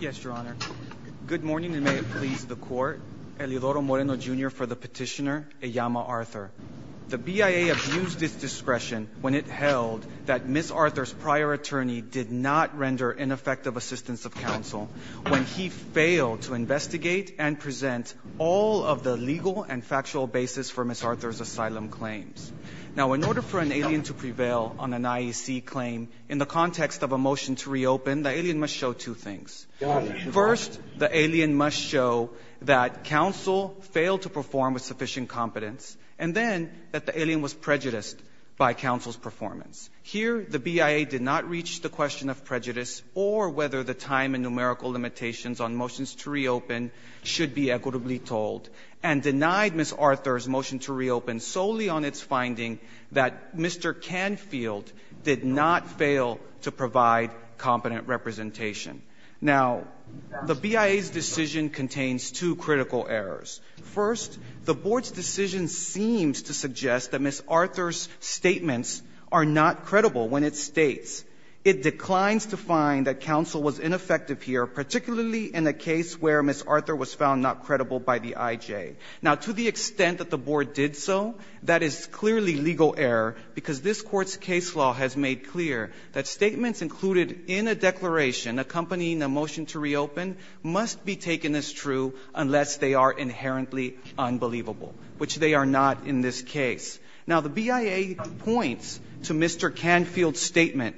Yes, Your Honor. Good morning, and may it please the court. Elidoro Moreno, Jr. for the petitioner Eyama Authur. The BIA abused its discretion when it held that Ms. Authur's prior attorney did not render ineffective assistance of counsel when he failed to investigate and present all of the legal and factual basis for Ms. Authur's asylum claims. Now, in order for an alien to prevail on an IEC claim, in the context of a motion to reopen, the alien must show two things. First, the alien must show that counsel failed to perform with sufficient competence, and then that the alien was prejudiced by counsel's performance. Here, the BIA did not reach the question of prejudice or whether the time and numerical limitations on motions to reopen should be equitably told, and denied Ms. Authur's motion to reopen solely on its finding that Mr. Canfield did not fail to provide competent representation. Now, the BIA's decision contains two critical errors. First, the Board's decision seems to suggest that Ms. Authur's statements are not credible when it states, it declines to find that counsel was ineffective here, particularly in a case where Ms. Authur was found not credible by the IJ. Now, to the extent that the Board did so, that is clearly legal error, because this Court's case law has made clear that statements included in a declaration accompanying a motion to reopen must be taken as true unless they are inherently unbelievable, which they are not in this case. Now, the BIA points to Mr. Canfield's statement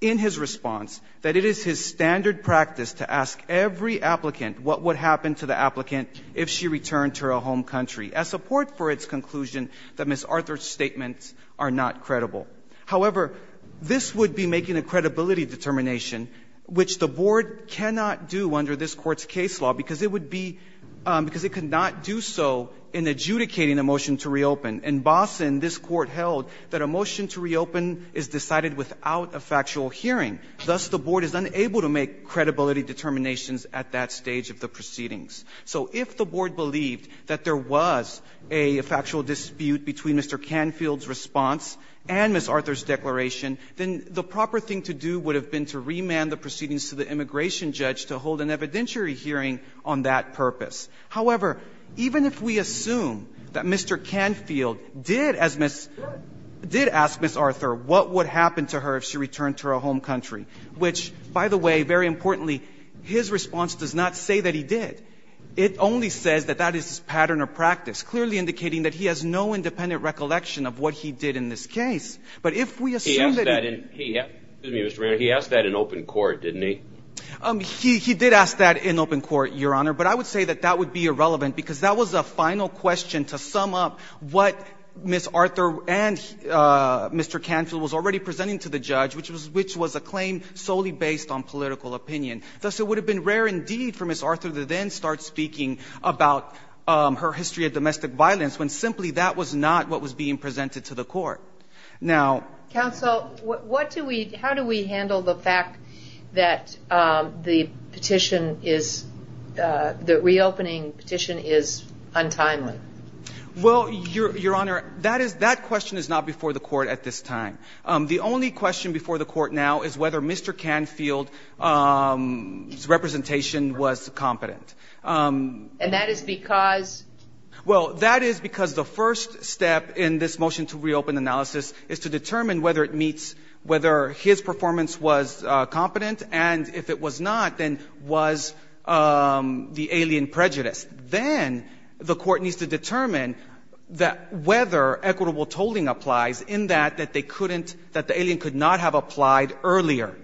in his response that it is his standard practice to ask every applicant what would happen to the applicant if she returned to her home country, as support for its conclusion that Ms. Authur's statements are not credible. However, this would be making a credibility determination, which the Board cannot do under this Court's case law, because it would be — because it could not do so in adjudicating a motion to reopen. In Boston, this Court held that a motion to reopen is decided without a factual hearing. Thus, the Board is unable to make credibility determinations at that stage of the proceedings. So if the Board believed that there was a factual dispute between Mr. Canfield's response and Ms. Authur's declaration, then the proper thing to do would have been to remand the proceedings to the immigration judge to hold an evidentiary hearing on that purpose. However, even if we assume that Mr. Canfield did, as Ms. — did ask Ms. Authur what would happen to her if she returned to her home country, which, by the way, very importantly, his response does not say that he did. It only says that that is his pattern of practice, clearly indicating that he has no independent recollection of what he did in this case. But if we assume that he — Excuse me, Mr. Reynolds, he asked that in open court, didn't he? He did ask that in open court, Your Honor, but I would say that that would be irrelevant because that was a final question to sum up what Ms. Authur and Mr. Canfield was already presenting to the judge, which was a claim solely based on political opinion. Thus, it would have been rare indeed for Ms. Authur to then start speaking about her history of domestic violence when simply that was not what was being presented to the Court. Now — Counsel, what do we — how do we handle the fact that the petition is — the reopening petition is untimely? Well, Your Honor, that is — that question is not before the Court at this time. The only question before the Court now is whether Mr. Canfield's representation was competent. And that is because — Well, that is because the first step in this motion to reopen analysis is to determine whether it meets — whether his performance was competent, and if it was not, then was the alien prejudiced. Then the Court needs to determine whether equitable tolling applies in that they couldn't — that the alien could not have applied earlier,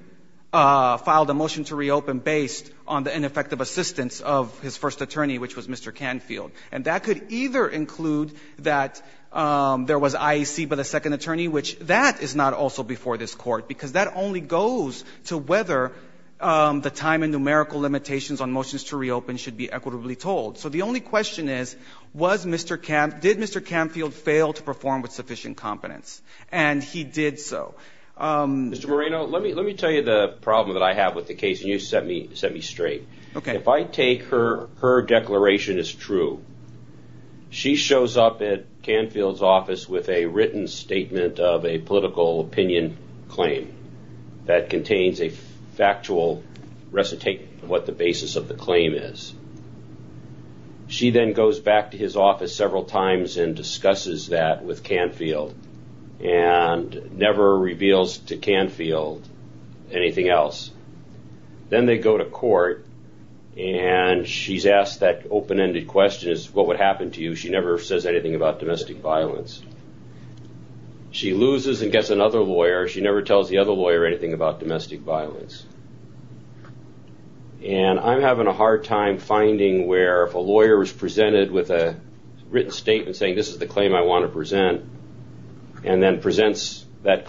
filed a motion to reopen based on the ineffective assistance of his first attorney, which was Mr. Canfield. And that could either include that there was IEC by the second attorney, which that is not also before this Court, because that only goes to whether the time and numerical limitations on motions to reopen should be equitably tolled. So the only question is, was Mr. Can — did Mr. Canfield fail to perform with sufficient competence? And he did so. Mr. Moreno, let me — let me tell you the problem that I have with the case, and you set me — set me straight. Okay. If I take her — her declaration as true, she shows up at Canfield's office with a written statement of a political opinion claim that contains a factual recitation of what the basis of the claim is. She then goes back to his office several times and discusses that with Canfield and never reveals to Canfield anything else. Then they go to court, and she's asked that open-ended question is, what would happen to you? She never says anything about domestic violence. She loses and gets another lawyer. She never tells the other lawyer anything about domestic violence. And I'm having a hard time finding where if a lawyer is presented with a written statement saying, this is the claim I want to present, and then presents that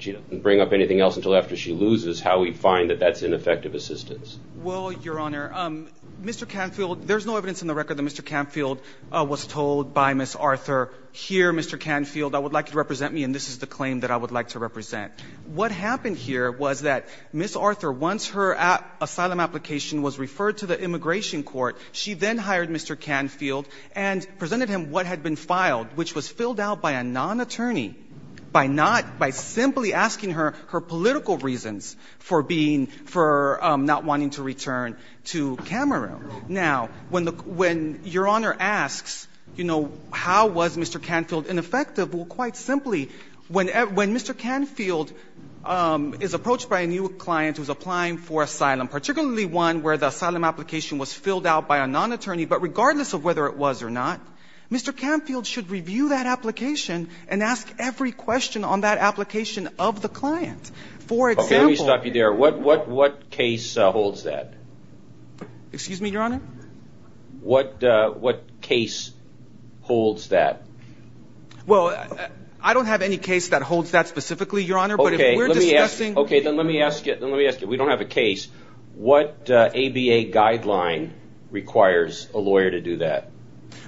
she loses, how we find that that's ineffective assistance. Well, Your Honor, Mr. Canfield — there's no evidence in the record that Mr. Canfield was told by Ms. Arthur, here, Mr. Canfield, I would like you to represent me, and this is the claim that I would like to represent. What happened here was that Ms. Arthur, once her asylum application was referred to the immigration court, she then hired Mr. Canfield and presented him what had been filed, which was filled out by a non-attorney by not — by simply asking her her political reasons for being — for not wanting to return to Cameroon. Now, when the — when Your Honor asks, you know, how was Mr. Canfield ineffective, well, quite simply, when — when Mr. Canfield is approached by a new client who's applying for asylum, particularly one where the asylum application was filled out by a non-attorney, but regardless of whether it was or not, Mr. Canfield should review that application and ask every question on that application of the client. For example — Okay, let me stop you there. What — what case holds that? Excuse me, Your Honor? What — what case holds that? Well, I don't have any case that holds that specifically, Your Honor, but if we're discussing — Okay, let me ask — okay, then let me ask you — then let me ask you — we don't have a case. What ABA guideline requires a lawyer to do that?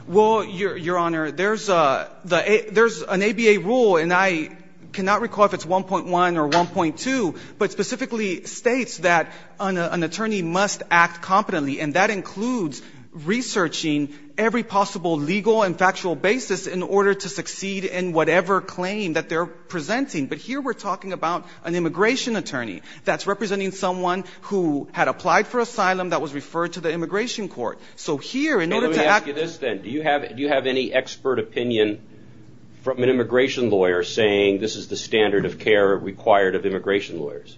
Well, Your Honor, there's a — there's an ABA rule, and I cannot recall if it's 1.1 or 1.2, but specifically states that an attorney must act competently, and that includes researching every possible legal and factual basis in order to succeed in whatever claim that they're presenting. But here we're talking about an immigration attorney that's representing someone who had applied for asylum that was referred to the immigration court. So here, in order to — No, let me ask you this, then. Do you have — do you have any expert opinion from an immigration lawyer saying this is the standard of care required of immigration lawyers?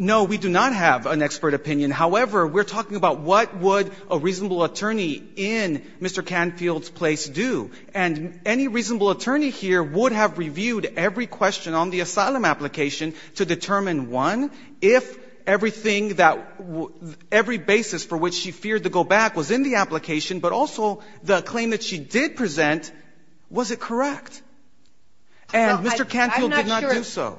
No, we do not have an expert opinion. However, we're talking about what would a reasonable attorney in Mr. Canfield's place do, and any reasonable attorney here would have reviewed every question on the asylum application to determine, one, if everything that — every basis for which she feared to go back was in the application, but also the claim that she did present, was it correct? And Mr. Canfield did not do so. Well,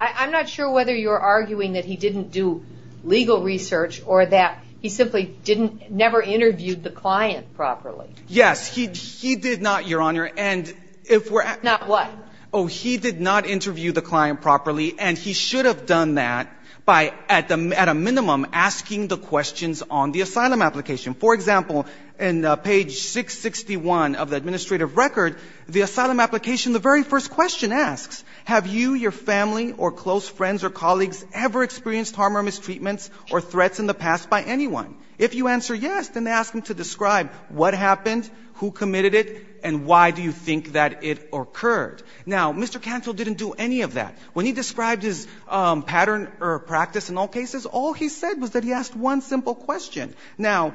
I'm not sure — I'm not sure whether you're arguing that he didn't do legal research or that he simply didn't — never interviewed the client properly. Yes, he — he did not, Your Honor, and if we're — Not what? Oh, he did not interview the client properly, and he should have done that by, at a minimum, asking the questions on the asylum application. For example, in page 661 of the administrative record, the asylum application, the very first question asks, have you, your family, or close friends or colleagues ever experienced harm or mistreatments or threats in the past by anyone? If you answer yes, then ask them to describe what happened, who committed it, and why do you think that it occurred? Now, Mr. Canfield didn't do any of that. When he described his pattern or practice in all cases, all he said was that he asked one simple question. Now,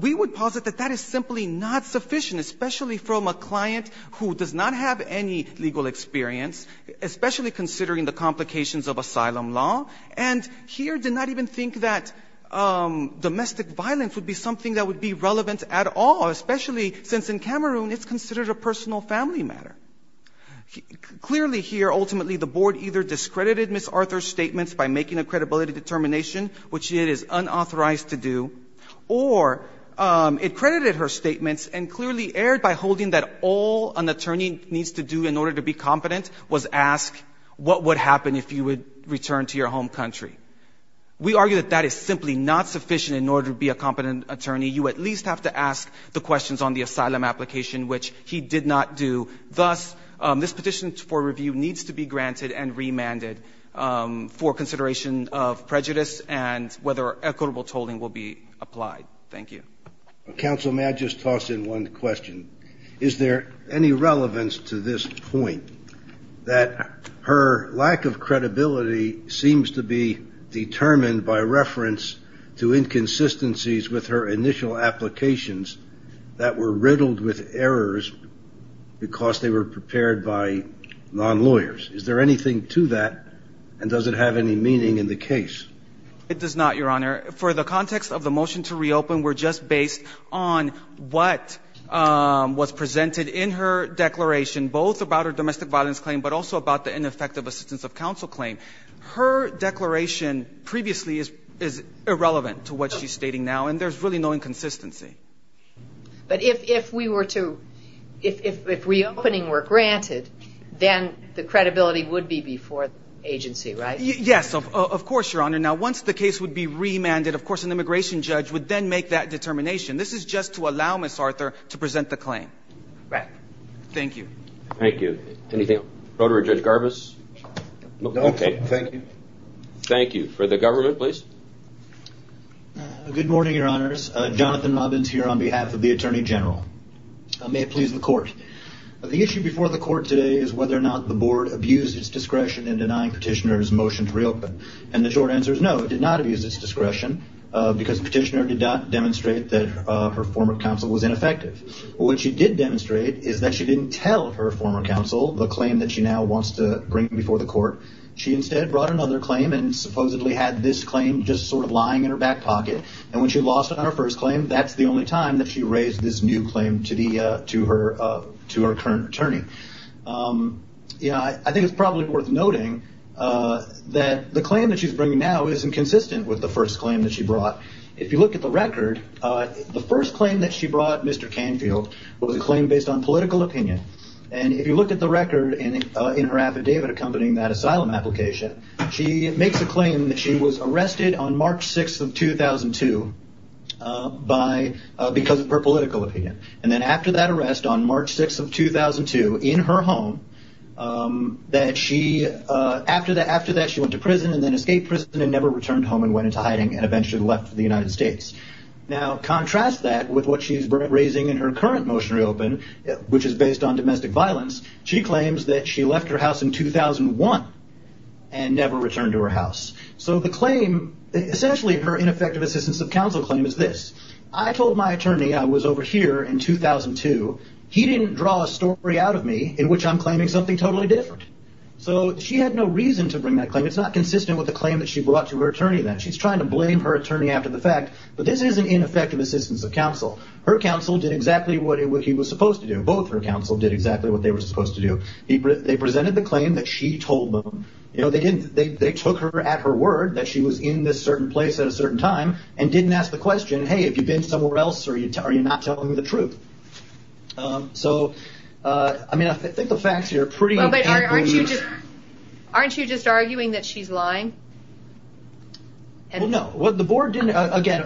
we would posit that that is simply not sufficient, especially from a client who does not have any legal experience, especially considering the complications of asylum law, and here did not even think that domestic violence would be something that would be relevant at all, especially since in Cameroon it's considered a personal family matter. Clearly here, ultimately, the board either discredited Ms. Arthur's statements by making a credibility determination, which it is unauthorized to do, or it credited her statements and clearly erred by holding that all an attorney needs to do in order to be competent was ask what would happen if you would return to your home country. We argue that that is simply not sufficient in order to be a competent attorney. You at least have to ask the questions on the asylum application, which he did not do. Thus, this petition for review needs to be granted and remanded for consideration of prejudice and whether equitable tolling will be applied. Thank you. Counsel, may I just toss in one question? Is there any relevance to this point, that her lack of credibility seems to be determined by reference to inconsistencies with her initial applications that were riddled with errors because they were prepared by non-lawyers. Is there anything to that, and does it have any meaning in the case? It does not, Your Honor. For the context of the motion to reopen, we're just based on what was presented in her declaration, both about her domestic violence claim, but also about the ineffective assistance of counsel claim. Her declaration previously is irrelevant to what she's stating now, and there's really no inconsistency. But if we were to, if reopening were granted, then the credibility would be before the agency, right? Yes, of course, Your Honor. Now, once the case would be remanded, of course, an immigration judge would then make that determination. This is just to allow Ms. Arthur to present the claim. Right. Thank you. Thank you. Anything, Rotary Judge Garbus? No. Okay. Thank you. Thank you. For the government, please. Good morning, Your Honors. Jonathan Robbins here on behalf of the Attorney General. May it please the Court. The issue before the Court today is whether or not the Board abused its discretion in denying Petitioner's motion to reopen. And the short answer is no, it did not abuse its discretion because Petitioner did not demonstrate that her former counsel was ineffective. What she did demonstrate is that she didn't tell her former counsel the claim that she now wants to bring before the Court. She instead brought another claim and supposedly had this claim just sort of lying in her back pocket. And when she lost on her first claim, that's the only time that she raised this new claim to her current attorney. You know, I think it's probably worth noting that the claim that she's bringing now isn't consistent with the first claim that she brought. If you look at the record, the first claim that she brought, Mr. Canfield, was a claim based on political opinion. And if you look at the record in her affidavit accompanying that asylum application, she makes a claim that she was arrested on March 6th of 2002 because of her political opinion. And then after that arrest on March 6th of 2002 in her home, after that she went to prison and then escaped prison and never returned home and went into hiding and eventually left for the United States. Now contrast that with what she's raising in her current motion to reopen, which is based on that she left her house in 2001 and never returned to her house. So the claim, essentially her ineffective assistance of counsel claim is this. I told my attorney I was over here in 2002. He didn't draw a story out of me in which I'm claiming something totally different. So she had no reason to bring that claim. It's not consistent with the claim that she brought to her attorney then. She's trying to blame her attorney after the fact. But this isn't ineffective assistance of counsel. Her counsel did exactly what he was supposed to do. Both her counsel did exactly what they were supposed to do. They presented the claim that she told them. They took her at her word that she was in this certain place at a certain time and didn't ask the question, hey, have you been somewhere else or are you not telling me the truth? So I think the facts here are pretty... Aren't you just arguing that she's lying? No. Again,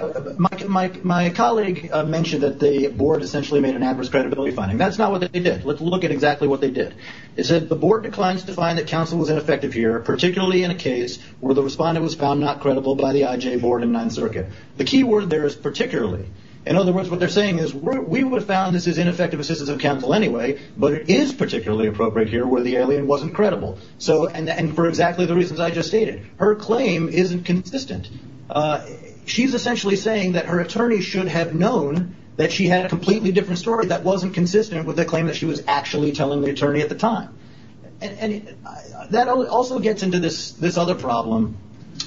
my colleague mentioned that the board essentially made an adverse credibility finding. That's not what they did. Let's look at exactly what they did. They said the board declines to find that counsel was ineffective here, particularly in a case where the respondent was found not credible by the IJ board and 9th Circuit. The key word there is particularly. In other words, what they're saying is we would have found this is ineffective assistance of counsel anyway, but it is particularly appropriate here where the alien wasn't credible. And for exactly the reasons I just stated. Her claim isn't consistent. She's essentially saying that her attorney should have known that she had a completely different story that wasn't consistent with the claim that she was actually telling the attorney at the time. That also gets into this other problem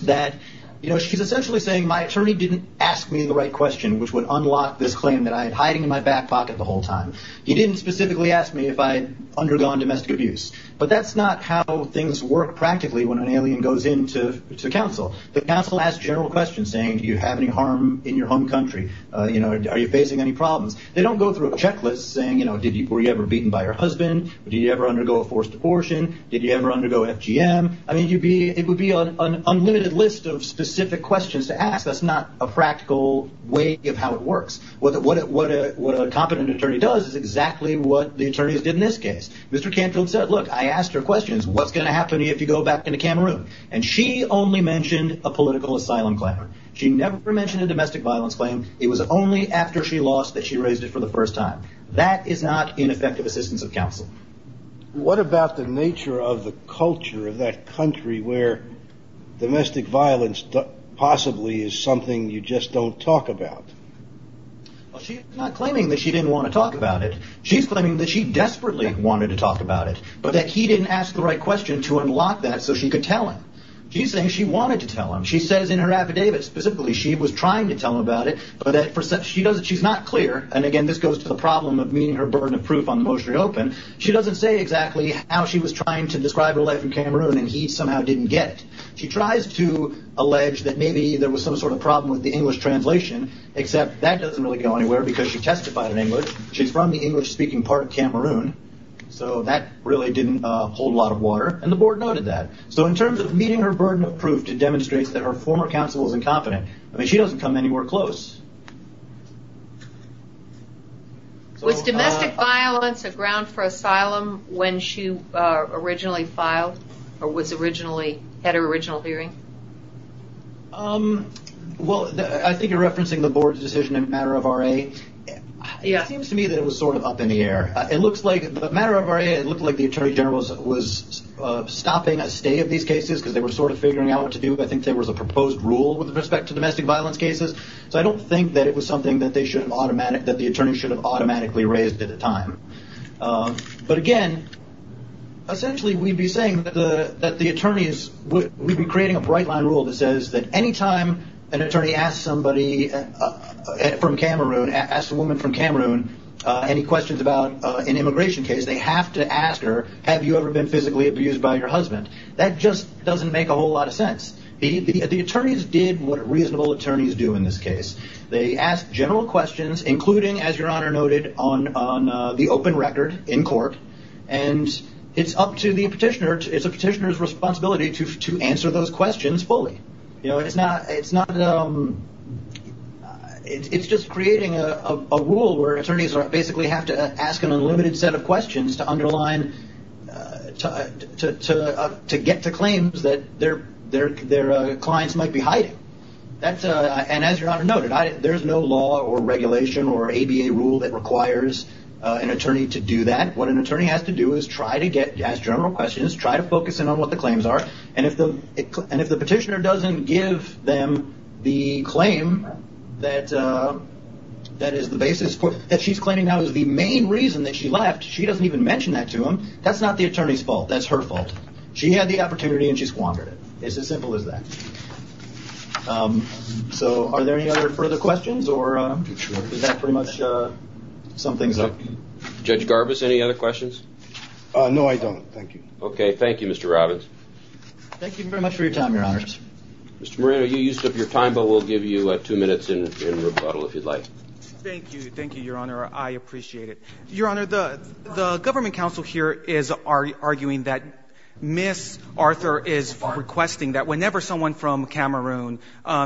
that she's essentially saying my attorney didn't ask me the right question, which would unlock this claim that I had hiding in my back pocket the whole time. He didn't specifically ask me if I had undergone domestic abuse, but that's not how things work practically when an alien goes in to counsel. The counsel asks general questions saying, do you have any harm in your home country? Are you facing any problems? They don't go through a checklist saying, were you ever beaten by your husband? Did you ever undergo a forced abortion? Did you ever undergo FGM? It would be an unlimited list of specific questions to ask. That's not a practical way of how it works. What a competent attorney does is exactly what the attorneys did in this case. Mr. Canfield said, look, I asked her questions. What's going to happen if you go back into Cameroon? And she only mentioned a political asylum claim. She never mentioned a domestic violence claim. It was only after she lost that she raised it for the first time. That is not ineffective assistance of counsel. What about the nature of the culture of that country where domestic violence possibly is something you just don't talk about? She's not claiming that she didn't want to talk about it. She's claiming that she desperately wanted to talk about it, but that he didn't ask the right question to unlock that so she could tell him. She's saying she wanted to tell him. She says in her affidavit specifically she was trying to tell him about it but she's not clear. And again, this goes to the problem of meeting her burden of proof on the motion to reopen. She doesn't say exactly how she was trying to describe her life in Cameroon and he somehow didn't get it. She tries to allege that maybe there was some sort of problem with the English translation, except that doesn't really go anywhere because she testified in English. She's from the English-speaking part of Cameroon. So that really didn't hold a lot of water. And the board noted that. So in terms of meeting her burden of proof, it demonstrates that her former counsel is incompetent. I mean, she doesn't come anywhere close. Was domestic violence a ground for asylum when she originally filed or had her original hearing? I think you're referencing the board's decision in matter of RA. It seems to me that it was sort of up in the air. In matter of RA, it looked like the Attorney General was stopping a stay of these cases because they were sort of figuring out what to do. I think there was a proposed rule with respect to domestic violence cases. So I don't think that it was something that the attorneys should have automatically raised at the time. But again, essentially we'd be saying that the attorneys, we'd be creating a bright line rule that says that anytime an attorney asks somebody from Cameroon asks a woman from Cameroon any questions about an immigration case, they have to ask her, have you ever been physically abused by your husband? That just doesn't make a whole lot of sense. The attorneys did what reasonable attorneys do in this case. They ask general questions, including as your Honor noted on the open record in court. And it's up to the petitioner. It's a petitioner's responsibility to answer those questions fully. It's just creating a rule where attorneys basically have to ask an unlimited set of questions to underline to get to claims that their clients might be hiding. And as your Honor noted, there's no law or regulation or ABA rule that requires an attorney to do that. What an attorney has to do is try to get, ask general questions, try to focus in on what the claims are and if the petitioner doesn't give them the claim that is the basis that she's claiming now is the main reason that she left, she doesn't even mention that to them that's not the attorney's fault, that's her fault. She had the opportunity and she squandered it. It's as simple as that. Are there any further questions? Judge Garbus, any other questions? No, I don't. Thank you. Thank you, Mr. Robbins. Mr. Moran, you used up your time, but we'll give you two minutes in rebuttal if you'd like. Thank you, your Honor. I appreciate it. Your Honor, the government counsel here is arguing that Ms. Arthur is requesting that whenever someone from Cameroon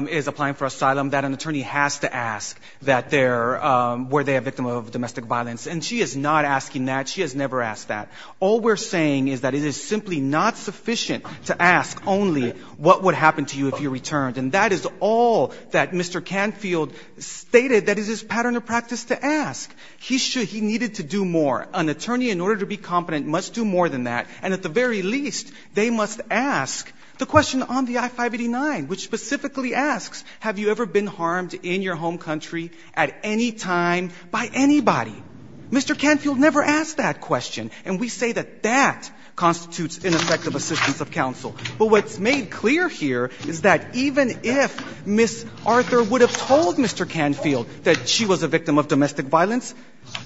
is applying for asylum that an attorney has to ask were they a victim of domestic violence. And she is not asking that. She has never asked that. All we're saying is that it is simply not sufficient to ask only what would happen to you if you returned. And that is all that Mr. Canfield stated that is his pattern of practice to ask. He needed to do more. An attorney, in order to be competent, must do more than that. And at the very least, they must ask the question on the I-589, which specifically asks, have you ever been harmed in your home country at any time by anybody? Mr. Canfield never asked that question. And we say that that constitutes ineffective assistance of counsel. But what's made clear here is that even if Ms. Arthur would have told Mr. Canfield that she was a victim of domestic violence,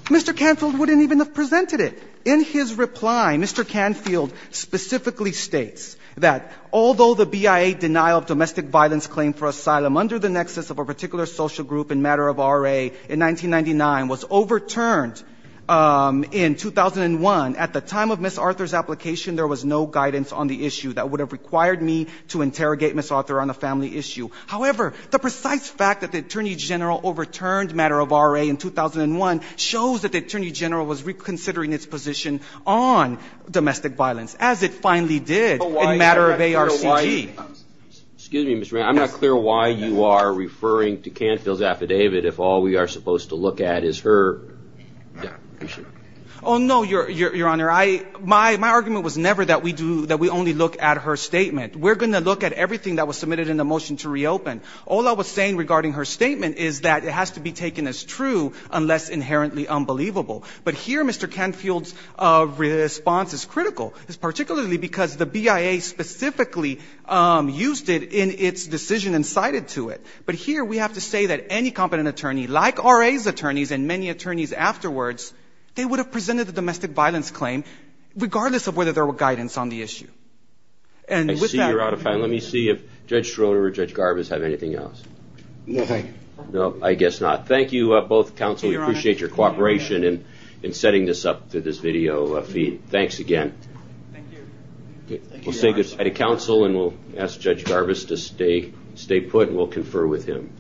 Mr. Canfield wouldn't even have presented it. In his reply, Mr. Canfield specifically states that although the BIA denial of domestic violence claim for asylum under the nexus of a particular social group and matter of RA in 1999 was overturned in 2001, at the time of Ms. Arthur's application, there was no guidance on the issue that would have required me to interrogate Ms. Arthur on a family issue. However, the precise fact that the Attorney General overturned matter of RA in 2001 shows that the Attorney General was reconsidering its position on domestic violence, as it finally did in matter of ARCG. Excuse me, Mr. Rand. I'm not clear why you are referring to Canfield's affidavit if all we are supposed to look at is her... Oh, no, Your Honor. My argument was never that we do not look at her statement. We're going to look at everything that was submitted in the motion to reopen. All I was saying regarding her statement is that it has to be taken as true unless inherently unbelievable. But here Mr. Canfield's response is critical. It's particularly because the BIA specifically used it in its decision and cited to it. But here we have to say that any competent attorney, like RA's attorneys and many attorneys afterwards, they would have presented the domestic violence claim regardless of whether there were guidance on the issue. Let me see if Judge Schroeder or Judge Garbus have anything else. No, I guess not. Thank you both counsel. We appreciate your cooperation in setting this up through this video feed. Thanks again. We'll stay good side of counsel and we'll ask Judge Garbus to stay put and we'll confer with him.